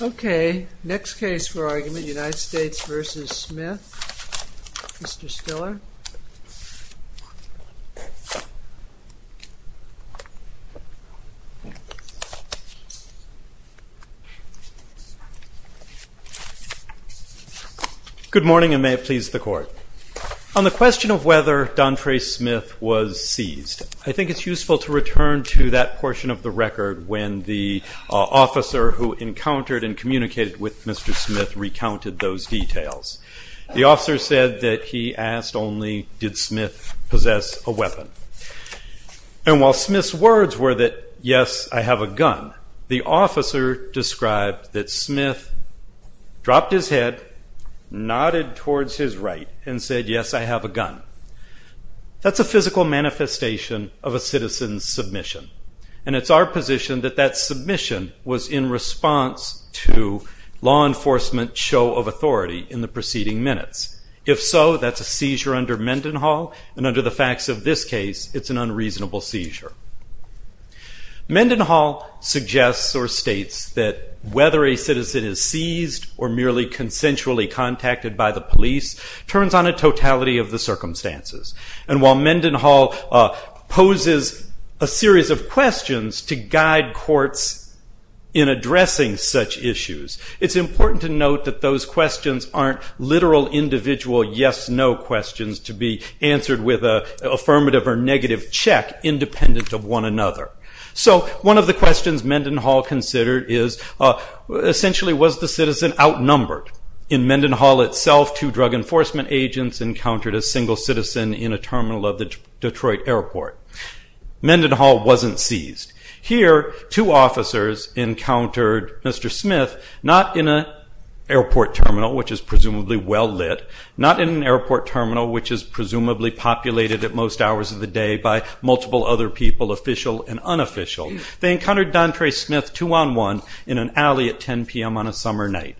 Okay, next case for argument, United States v. Smith, Mr. Stiller. Good morning and may it please the Court. On the question of whether Dontray Smith was seized, I think it's useful to return to that portion of the record when the officer who encountered and communicated with Mr. Smith recounted those details. The officer said that he asked only, did Smith possess a weapon? And while Smith's words were that, yes, I have a gun, the officer described that Smith dropped his head, nodded towards his right, and said, yes, I have a gun. That's a physical manifestation of a citizen's submission. And it's our position that that submission was in response to law enforcement show of authority in the preceding minutes. If so, that's a seizure under Mendenhall, and under the facts of this case, it's an unreasonable seizure. Mendenhall suggests or states that whether a citizen is seized or merely consensually contacted by the police turns on a totality of the circumstances. And while Mendenhall poses a series of questions to guide courts in addressing such issues, it's important to note that those questions aren't literal individual yes-no questions to be answered with an affirmative or negative check independent of one another. So one of the questions Mendenhall considered is, essentially, was the citizen outnumbered? In Mendenhall itself, two drug enforcement agents encountered a single citizen in a terminal of the Detroit airport. Mendenhall wasn't seized. Here, two officers encountered Mr. Smith not in an airport terminal, which is presumably well lit, not in an airport terminal, which is presumably populated at most hours of the day by multiple other people, official and unofficial. They encountered Dontre Smith two-on-one in an alley at 10 p.m. on a summer night.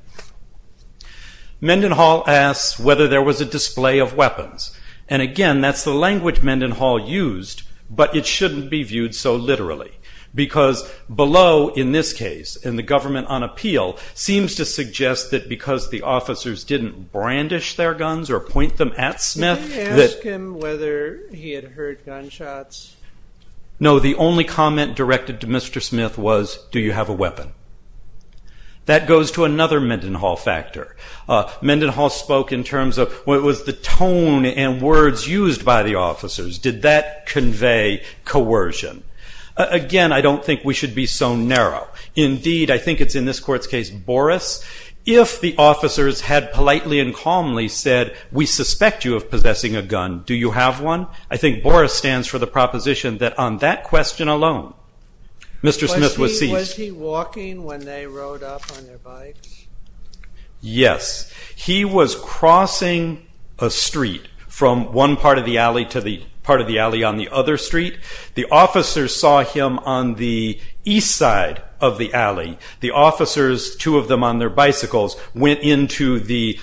Mendenhall asks whether there was a display of weapons. And again, that's the language Mendenhall used, but it shouldn't be viewed so literally. Because below, in this case, in the government on appeal, seems to suggest that because the officers didn't brandish their guns or point them at Smith that- Can you ask him whether he had heard gunshots? No, the only comment directed to Mr. Smith was, do you have a weapon? That goes to another Mendenhall factor. Mendenhall spoke in terms of what was the tone and words used by the officers. Did that convey coercion? Again, I don't think we should be so narrow. Indeed, I think it's in this court's case, Boris, if the officers had politely and calmly said, we suspect you of possessing a gun, do you have one? I think Boris stands for the proposition that on that question alone, Mr. Smith was seized. Was he walking when they rode up on their bikes? Yes. He was crossing a street from one part of the alley to the part of the alley on the other street. The officers saw him on the east side of the alley. The officers, two of them on their bicycles, went into the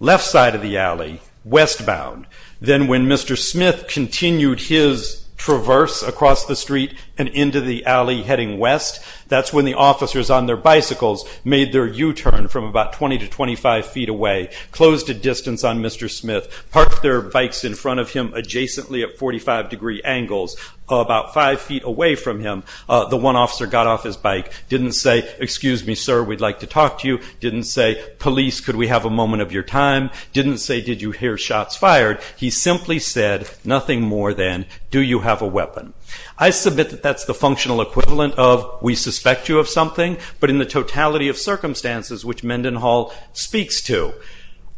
left side of the alley, westbound. Then when Mr. Smith continued his traverse across the street and into the alley heading west, that's when the officers on their bicycles made their U-turn from about 20 to 25 feet away, closed a distance on Mr. Smith, parked their bikes in front of him adjacently at 45 degree angles, about five feet away from him. The one officer got off his bike, didn't say, excuse me, sir, we'd like to talk to you, didn't say, police, could we have a moment of your time? Didn't say, did you hear shots fired? He simply said, nothing more than, do you have a weapon? I submit that that's the functional equivalent of, we suspect you of something, but in the totality of circumstances which Mendenhall speaks to,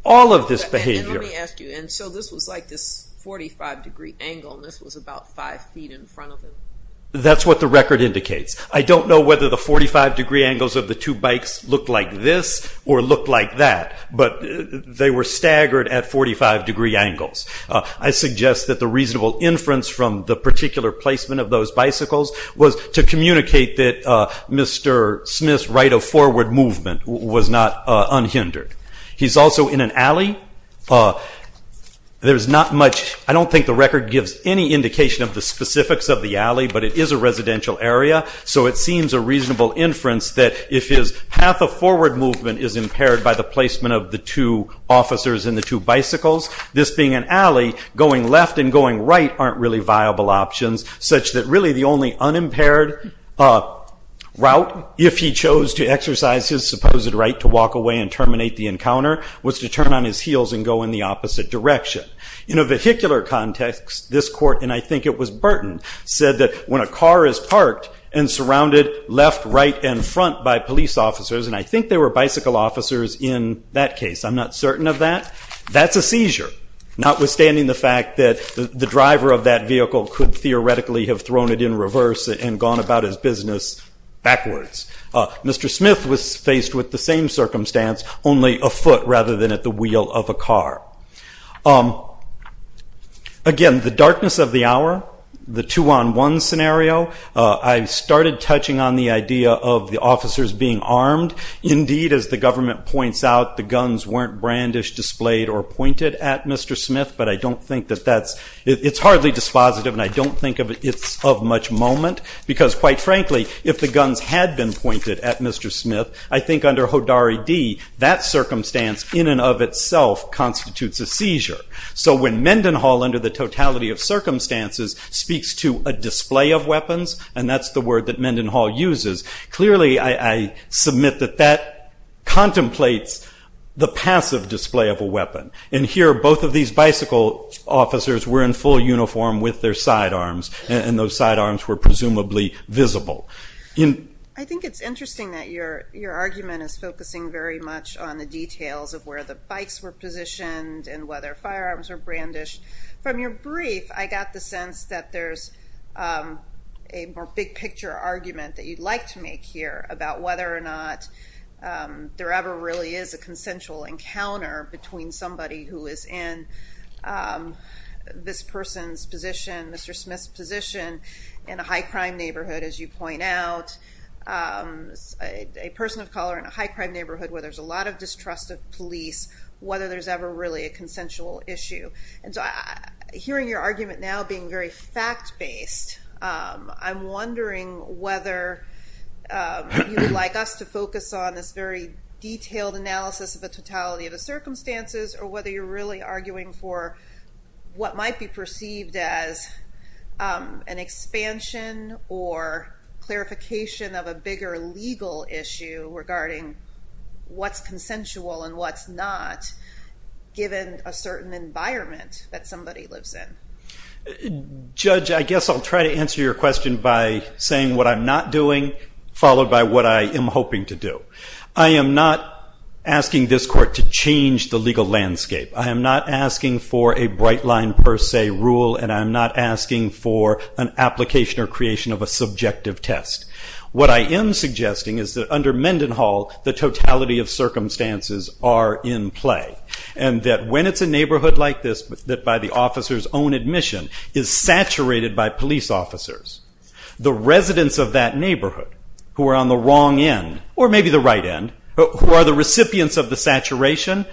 all of this behavior- Let me ask you, and so this was like this 45 degree angle, and this was about five feet in front of him? That's what the record indicates. I don't know whether the 45 degree angles of the two bikes looked like this or looked like that, but they were staggered at 45 degree angles. I suggest that the reasonable inference from the particular placement of those bicycles was to communicate that Mr. Smith's right of forward movement was not unhindered. He's also in an alley. There's not much, I don't think the record gives any indication of the specifics of the alley, but it is a residential area, so it seems a reasonable inference that if his path of forward movement is impaired by the placement of the two officers and the two bicycles, this being an alley, going left and going right aren't really viable options, such that really the only unimpaired route, if he chose to exercise his supposed right to walk away and terminate the encounter, was to turn on his heels and go in the opposite direction. In a vehicular context, this court, and I think it was Burton, said that when a car is parked and surrounded left, right, and front by police officers, and I think there were bicycle officers in that case, I'm not certain of that, that's a seizure, notwithstanding the fact that the driver of that vehicle could theoretically have thrown it in reverse and gone about his business backwards. Mr. Smith was faced with the same circumstance, only a foot rather than at the wheel of a car. Again, the darkness of the hour, the two-on-one scenario, I started touching on the idea of the officers being armed. Indeed, as the government points out, the guns weren't brandished, displayed, or pointed at Mr. Smith, but I don't think that that's, it's hardly dispositive, and I don't think it's of much moment, because quite frankly, if the guns had been pointed at Mr. Smith, I think under Hodari D., that circumstance in and of itself constitutes a seizure. So when Mendenhall, under the totality of circumstances, speaks to a display of weapons, and that's the word that Mendenhall uses, clearly I submit that that contemplates the passive display of a weapon. And here, both of these bicycle officers were in full uniform with their sidearms, and those sidearms were presumably visible. I think it's interesting that your argument is focusing very much on the details of where the bikes were positioned, and whether firearms were brandished. From your brief, I got the sense that there's a more big picture argument that you'd like to make here, about whether or not there ever really is a consensual encounter between somebody who is in this person's position, Mr. Smith's position, in a high crime neighborhood, as you point out, a person of color in a high crime neighborhood where there's a lot of distrust of police, whether there's ever really a consensual issue. And so, hearing your argument now being very fact-based, I'm wondering whether you'd like us to focus on this very detailed analysis of the totality of the circumstances, or whether you're really arguing for what might be perceived as an expansion or clarification of a bigger legal issue regarding what's consensual and what's not, given a certain environment that somebody lives in. Judge, I guess I'll try to answer your question by saying what I'm not doing, followed by what I am hoping to do. I am not asking this court to change the legal landscape. I am not asking for a bright line per se rule, and I am not asking for an application or creation of a subjective test. What I am suggesting is that under Mendenhall, the totality of circumstances are in play, and that when it's a neighborhood like this, that by the officer's own admission, is saturated by police officers, the residents of that neighborhood, who are on the wrong end, or maybe the right end, who are the recipients of the saturation,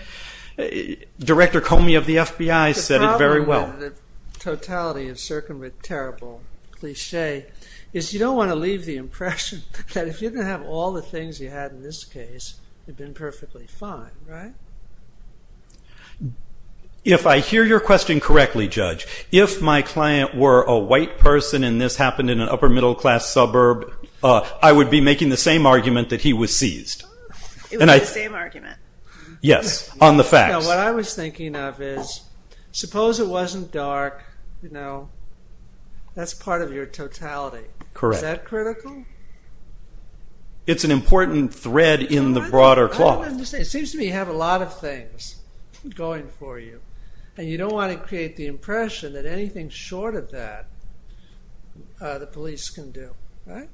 Director Comey of the FBI said it very well. The problem with the totality of circumventable cliche is you don't want to leave the impression that if you didn't have all the things you had in this case, you'd have been perfectly fine, right? If I hear your question correctly, Judge, if my client were a white person and this happened in an upper middle class suburb, I would be making the same argument that he was seized. It was the same argument? Yes, on the facts. What I was thinking of is, suppose it wasn't dark, you know, that's part of your totality. Correct. Is that critical? It's an important thread in the broader cloth. It seems to me you have a lot of things going for you, and you don't want to create the impression that anything short of that the police can do, right?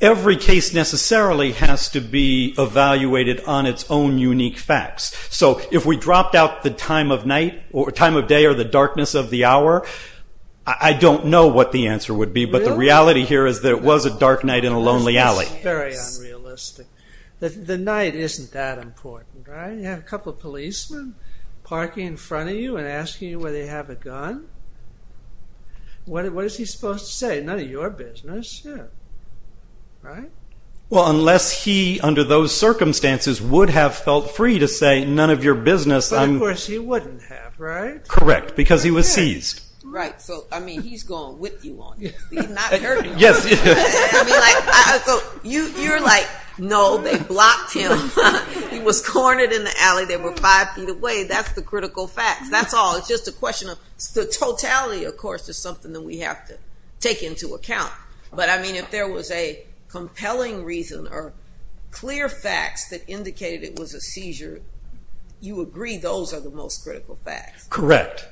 Every case necessarily has to be evaluated on its own unique facts. So if we dropped out the time of day or the darkness of the hour, I don't know what the answer would be, but the reality here is that it was a dark night in a lonely alley. Very unrealistic. The night isn't that important, right? You have a couple of policemen parking in front of you and asking you whether you have a gun. What is he supposed to say? None of your business. Right? Well, unless he, under those circumstances, would have felt free to say, none of your business. But of course he wouldn't have, right? Correct, because he was seized. Right. So, I mean, he's going with you on this. He's not hurting you. I mean, you're like, no, they blocked him. He was cornered in the alley. They were five feet away. That's the critical facts. That's all. It's just a question of the totality, of course, is something that we have to take into account. But, I mean, if there was a compelling reason or clear facts that indicated it was a seizure, you agree those are the most critical facts. Correct.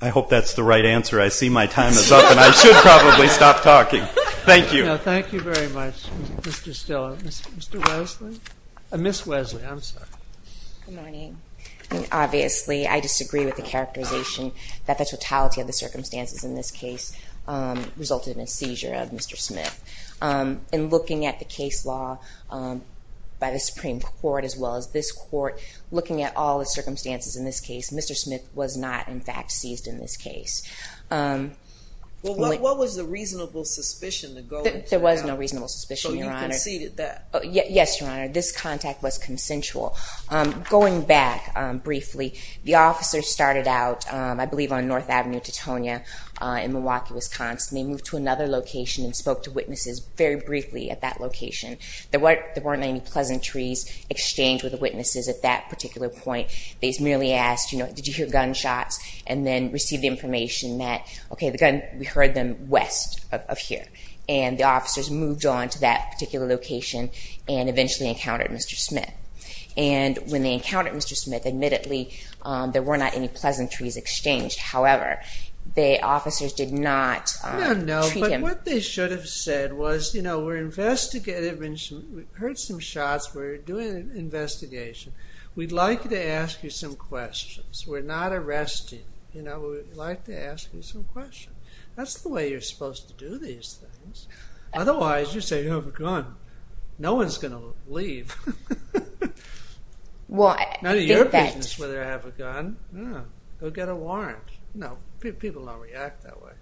I hope that's the right answer. I see my time is up, and I should probably stop talking. Thank you. No, thank you very much, Mr. Stiller. Mr. Wesley? Ms. Wesley, I'm sorry. Good morning. Obviously, I disagree with the characterization that the totality of the circumstances in this case resulted in a seizure of Mr. Smith. In looking at the case law by the Supreme Court, as well as this Court, looking at all the circumstances in this case, Mr. Smith was not, in fact, seized in this case. Well, what was the reasonable suspicion? There was no reasonable suspicion, Your Honor. So you conceded that? Yes, Your Honor. This contact was consensual. Going back briefly, the officers started out, I believe, on North Avenue, Tetonia, in Milwaukee, Wisconsin. They moved to another location and spoke to witnesses very briefly at that location. There weren't any pleasantries exchanged with the witnesses at that particular point. They merely asked, you know, did you hear gunshots? And then received the information that, okay, the gun, we heard them west of here. And the officers moved on to that particular location and eventually encountered Mr. Smith. And when they encountered Mr. Smith, admittedly, there were not any pleasantries exchanged. However, the officers did not treat him— No, no. But what they should have said was, you know, we're investigating. We heard some shots. We're doing an investigation. We'd like to ask you some questions. We're not arresting. You know, we'd like to ask you some questions. That's the way you're supposed to do these things. Otherwise, you say you have a gun. No one's going to leave. Well, I think that— None of your business whether I have a gun. Go get a warrant. You know, people don't react that way.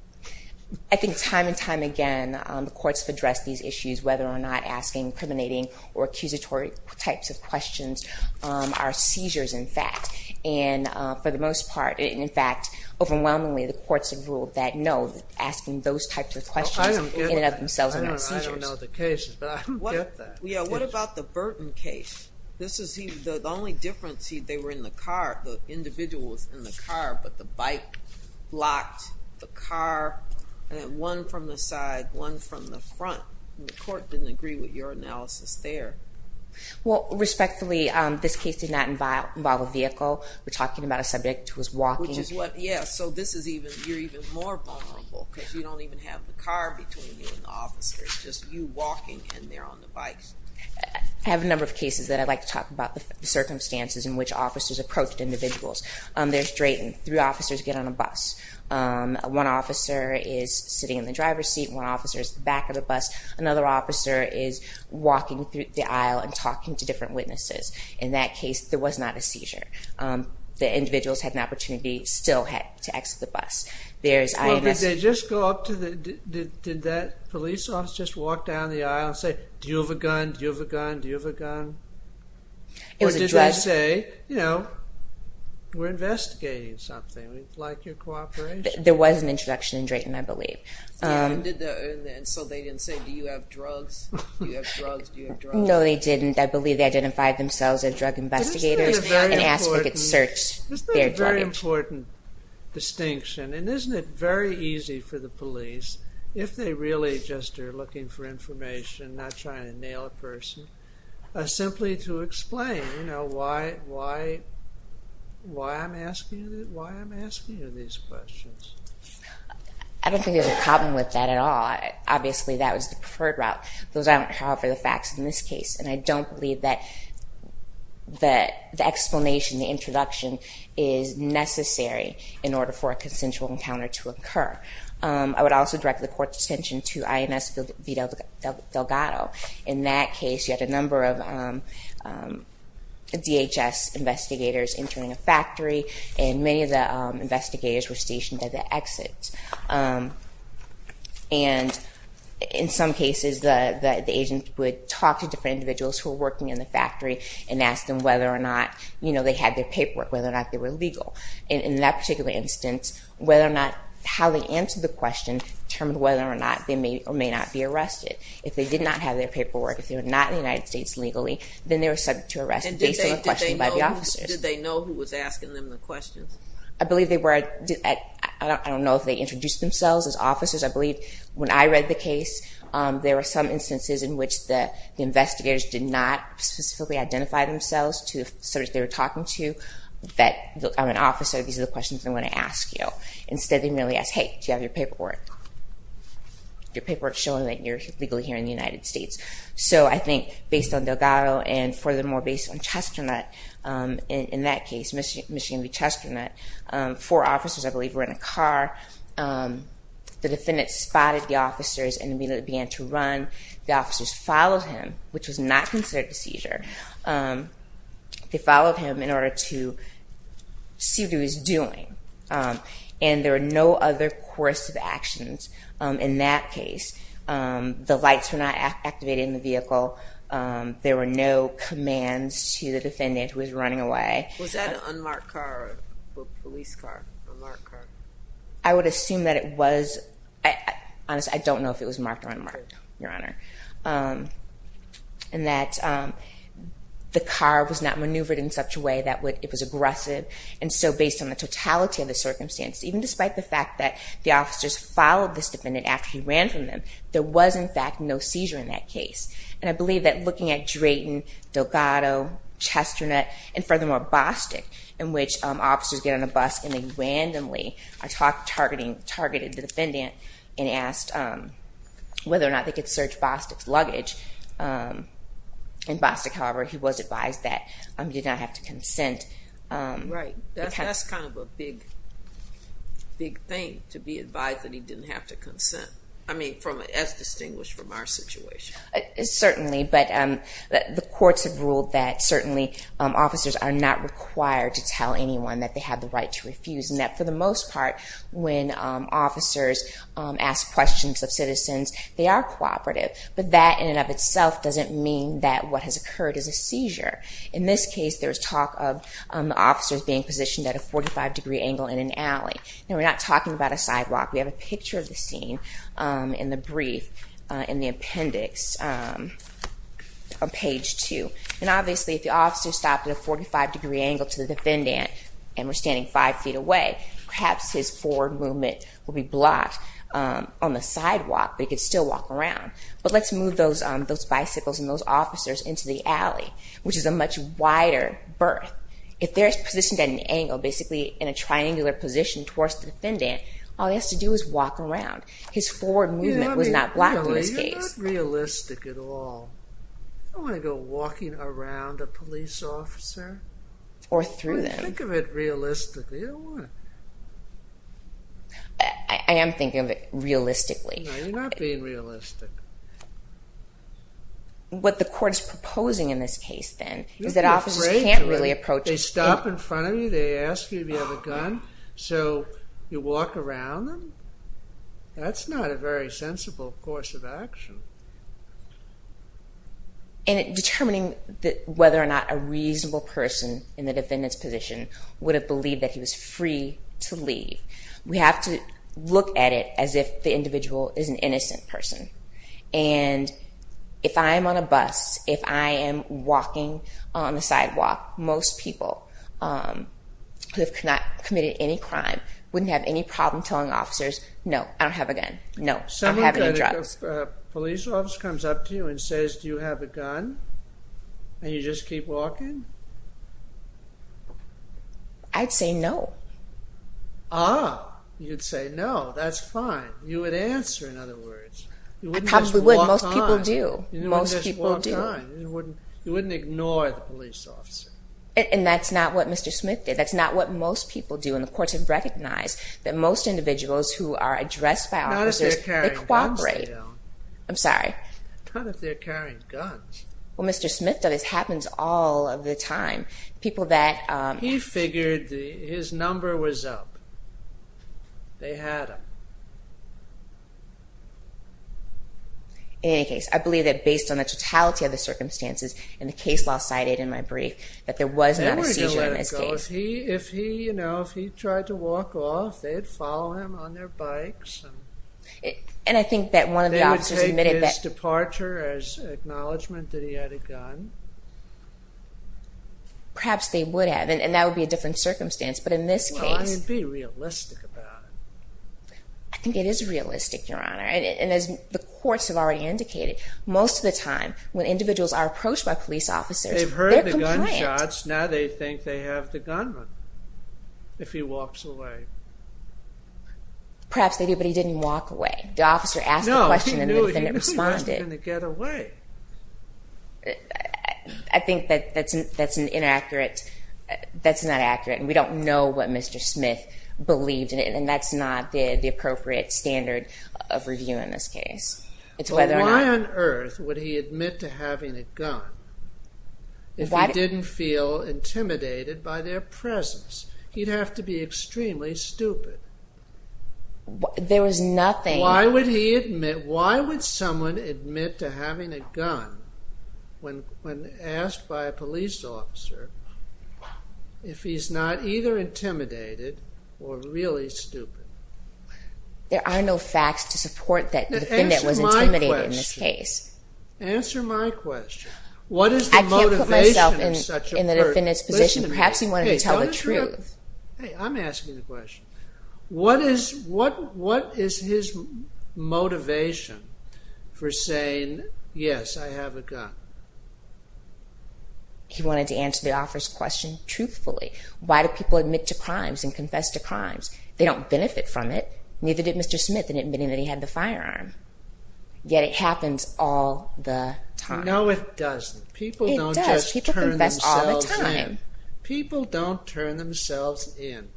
I think time and time again, the courts have addressed these issues, whether or not asking incriminating or accusatory types of questions are seizures, in fact. And for the most part, in fact, overwhelmingly, the courts have ruled that no, asking those types of questions in and of themselves are not seizures. I don't get that. I don't know the case, but I don't get that. Yeah, what about the Burton case? The only difference, they were in the car. The individual was in the car, but the bike blocked the car. And then one from the side, one from the front. The court didn't agree with your analysis there. Well, respectfully, this case did not involve a vehicle. We're talking about a subject who was walking. Which is what— Yeah, so this is even— You're even more vulnerable because you don't even have the car between you and the officer. It's just you walking, and they're on the bikes. I have a number of cases that I'd like to talk about the circumstances in which officers approached individuals. There's Drayton. Three officers get on a bus. One officer is sitting in the driver's seat. One officer is at the back of the bus. Another officer is walking through the aisle and talking to different witnesses. In that case, there was not a seizure. The individuals had an opportunity, still had, to exit the bus. Well, did they just go up to the— Did that police officer just walk down the aisle and say, Do you have a gun? Do you have a gun? Do you have a gun? Or did they say, you know, We're investigating something. We'd like your cooperation. There was an introduction in Drayton, I believe. And so they didn't say, Do you have drugs? Do you have drugs? Do you have drugs? No, they didn't. I believe they identified themselves as drug investigators and asked if they could search their drugs. Isn't that a very important distinction? And isn't it very easy for the police, if they really just are looking for information, not trying to nail a person, simply to explain, you know, why I'm asking you these questions? I don't think there's a problem with that at all. Obviously, that was the preferred route. Those aren't, however, the facts in this case. And I don't believe that the explanation, the introduction is necessary in order for a consensual encounter to occur. I would also direct the court's attention to INS Vito Delgado. In that case, you had a number of DHS investigators entering a factory, and many of the investigators were stationed at the exits. And in some cases, the agent would talk to different individuals who were working in the factory and ask them whether or not they had their paperwork, whether or not they were legal. In that particular instance, how they answered the question determined whether or not they may or may not be arrested. If they did not have their paperwork, if they were not in the United States legally, then they were subject to arrest based on a question by the officers. Did they know who was asking them the questions? I believe they were. I don't know if they introduced themselves as officers. I believe when I read the case, there were some instances in which the investigators did not specifically identify themselves to the officers they were talking to that, I'm an officer, these are the questions I want to ask you. Instead, they merely asked, hey, do you have your paperwork? Your paperwork showing that you're legally here in the United States. I think based on Delgado and furthermore based on Chesternut in that case, Michigan v. Chesternut, four officers, I believe, were in a car. The defendant spotted the officers and immediately began to run. The officers followed him, which was not considered a seizure. They followed him in order to see what he was doing. There were no other coercive actions in that case. The lights were not activated in the vehicle. There were no commands to the defendant who was running away. Was that an unmarked car or a police car? An unmarked car. I would assume that it was. Honestly, I don't know if it was marked or unmarked, Your Honor. And that the car was not maneuvered in such a way that it was aggressive. Based on the totality of the circumstances, even despite the fact that the officers followed this defendant after he ran from them, there was, in fact, no seizure in that case. And I believe that looking at Drayton, Delgado, Chesternut, and furthermore, Bostic, in which officers get on a bus and they randomly targeted the defendant and asked whether or not they could search Bostic's luggage. In Bostic, however, he was advised that he did not have to consent. Right. That's kind of a big thing, to be advised that he didn't have to consent. I mean, as distinguished from our situation. Certainly, but the courts have ruled that, certainly, officers are not required to tell anyone that they have the right to refuse. And that, for the most part, when officers ask questions of citizens, they are cooperative. But that, in and of itself, doesn't mean that what has occurred is a seizure. In this case, there's talk of officers being positioned at a 45-degree angle in an alley. Now, we're not talking about a sidewalk. We have a picture of the scene in the brief, in the appendix on page 2. And obviously, if the officer stopped at a 45-degree angle to the defendant, and we're standing 5 feet away, perhaps his forward movement would be blocked on the sidewalk, but he could still walk around. But let's move those bicycles and those officers into the alley, which is a much wider berth. If they're positioned at an angle, basically in a triangular position towards the defendant, all he has to do is walk around. His forward movement was not blocked in this case. You're not realistic at all. You don't want to go walking around a police officer. Or through them. Think of it realistically. I am thinking of it realistically. No, you're not being realistic. What the court is proposing in this case, then, is that officers can't really approach... They stop in front of you, they ask you if you have a gun, so you walk around them? That's not a very sensible course of action. And determining whether or not a reasonable person in the defendant's position would have believed that he was free to leave. We have to look at it as if the individual is an innocent person. And if I'm on a bus, if I am walking on the sidewalk, most people who have not committed any crime, wouldn't have any problem telling officers, no, I don't have a gun, no, I'm having a drug. If a police officer comes up to you and says, do you have a gun? And you just keep walking? I'd say no. Ah, you'd say no. That's fine. You would answer, in other words. You wouldn't just walk on. You wouldn't just walk on. You wouldn't ignore the police officer. And that's not what Mr. Smith did. That's not what most people do. And the courts have recognized that most individuals who are addressed by officers, they cooperate. Not if they're carrying guns. Well, Mr. Smith does. This happens all of the time. He figured his number was up. They had him. In any case, I believe that based on the totality of the circumstances, and the case law cited in my brief, that there was not a seizure in this case. They were going to let it go. If he tried to walk off, they'd follow him on their bikes. And I think that one of the officers admitted that... They would take his departure as acknowledgement that he had a gun. Perhaps they would have. And that would be a different circumstance. But in this case... I mean, be realistic about it. I think it is realistic, Your Honor. And as the courts have already indicated, most of the time, when individuals are approached by police officers, they're compliant. They've heard the gunshots. Now they think they have the gunman. If he walks away. Perhaps they do, but he didn't walk away. The officer asked the question, and the defendant responded. No, he knew he wasn't going to get away. I think that's an inaccurate... That's not accurate, and we don't know what Mr. Smith believed in it. And that's not the appropriate standard of review in this case. Why on earth would he admit to having a gun if he didn't feel intimidated by their presence? He'd have to be extremely stupid. There was nothing... Why would someone admit to having a gun when asked by a police officer if he's not either intimidated or really stupid? There are no facts to support that the defendant was intimidated in this case. Answer my question. I can't put myself in the defendant's position. Perhaps he wanted to tell the truth. Hey, I'm asking the question. What is his motivation for saying, yes, I have a gun? He wanted to answer the officer's question truthfully. Why do people admit to crimes and confess to crimes? They don't benefit from it. Neither did Mr. Smith in admitting that he had the firearm. Yet it happens all the time. No, it doesn't. It does. People confess all the time. People don't turn themselves in.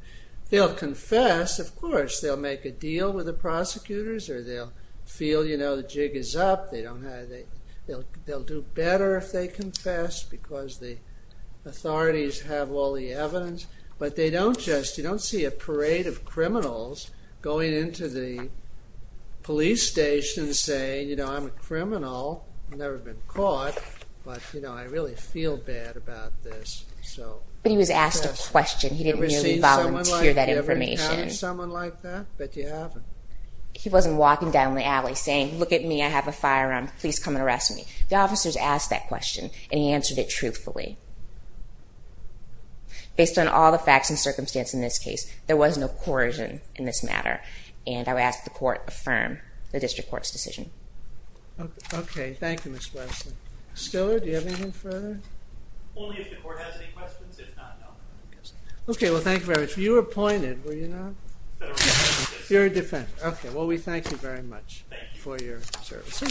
They'll confess, of course. They'll make a deal with the prosecutors, or they'll feel the jig is up. They'll do better if they confess, because the authorities have all the evidence. But you don't see a parade of criminals going into the police station saying, you know, I'm a criminal. I've never been caught, but I really feel bad about this. But he was asked a question. He didn't volunteer that information. Have you ever encountered someone like that? Bet you haven't. He wasn't walking down the alley saying, look at me, I have a firearm. Please come and arrest me. The officers asked that question and he answered it truthfully. Based on all the facts and circumstance in this case, there was no coercion in this matter. And I would ask the court affirm the district court's decision. Okay, thank you, Ms. Wesley. Stiller, do you have anything further? Only if the court has any questions. If not, no. Okay, well thank you very much. You were appointed, were you not? You're a defense attorney. Okay, well we thank you very much for your services.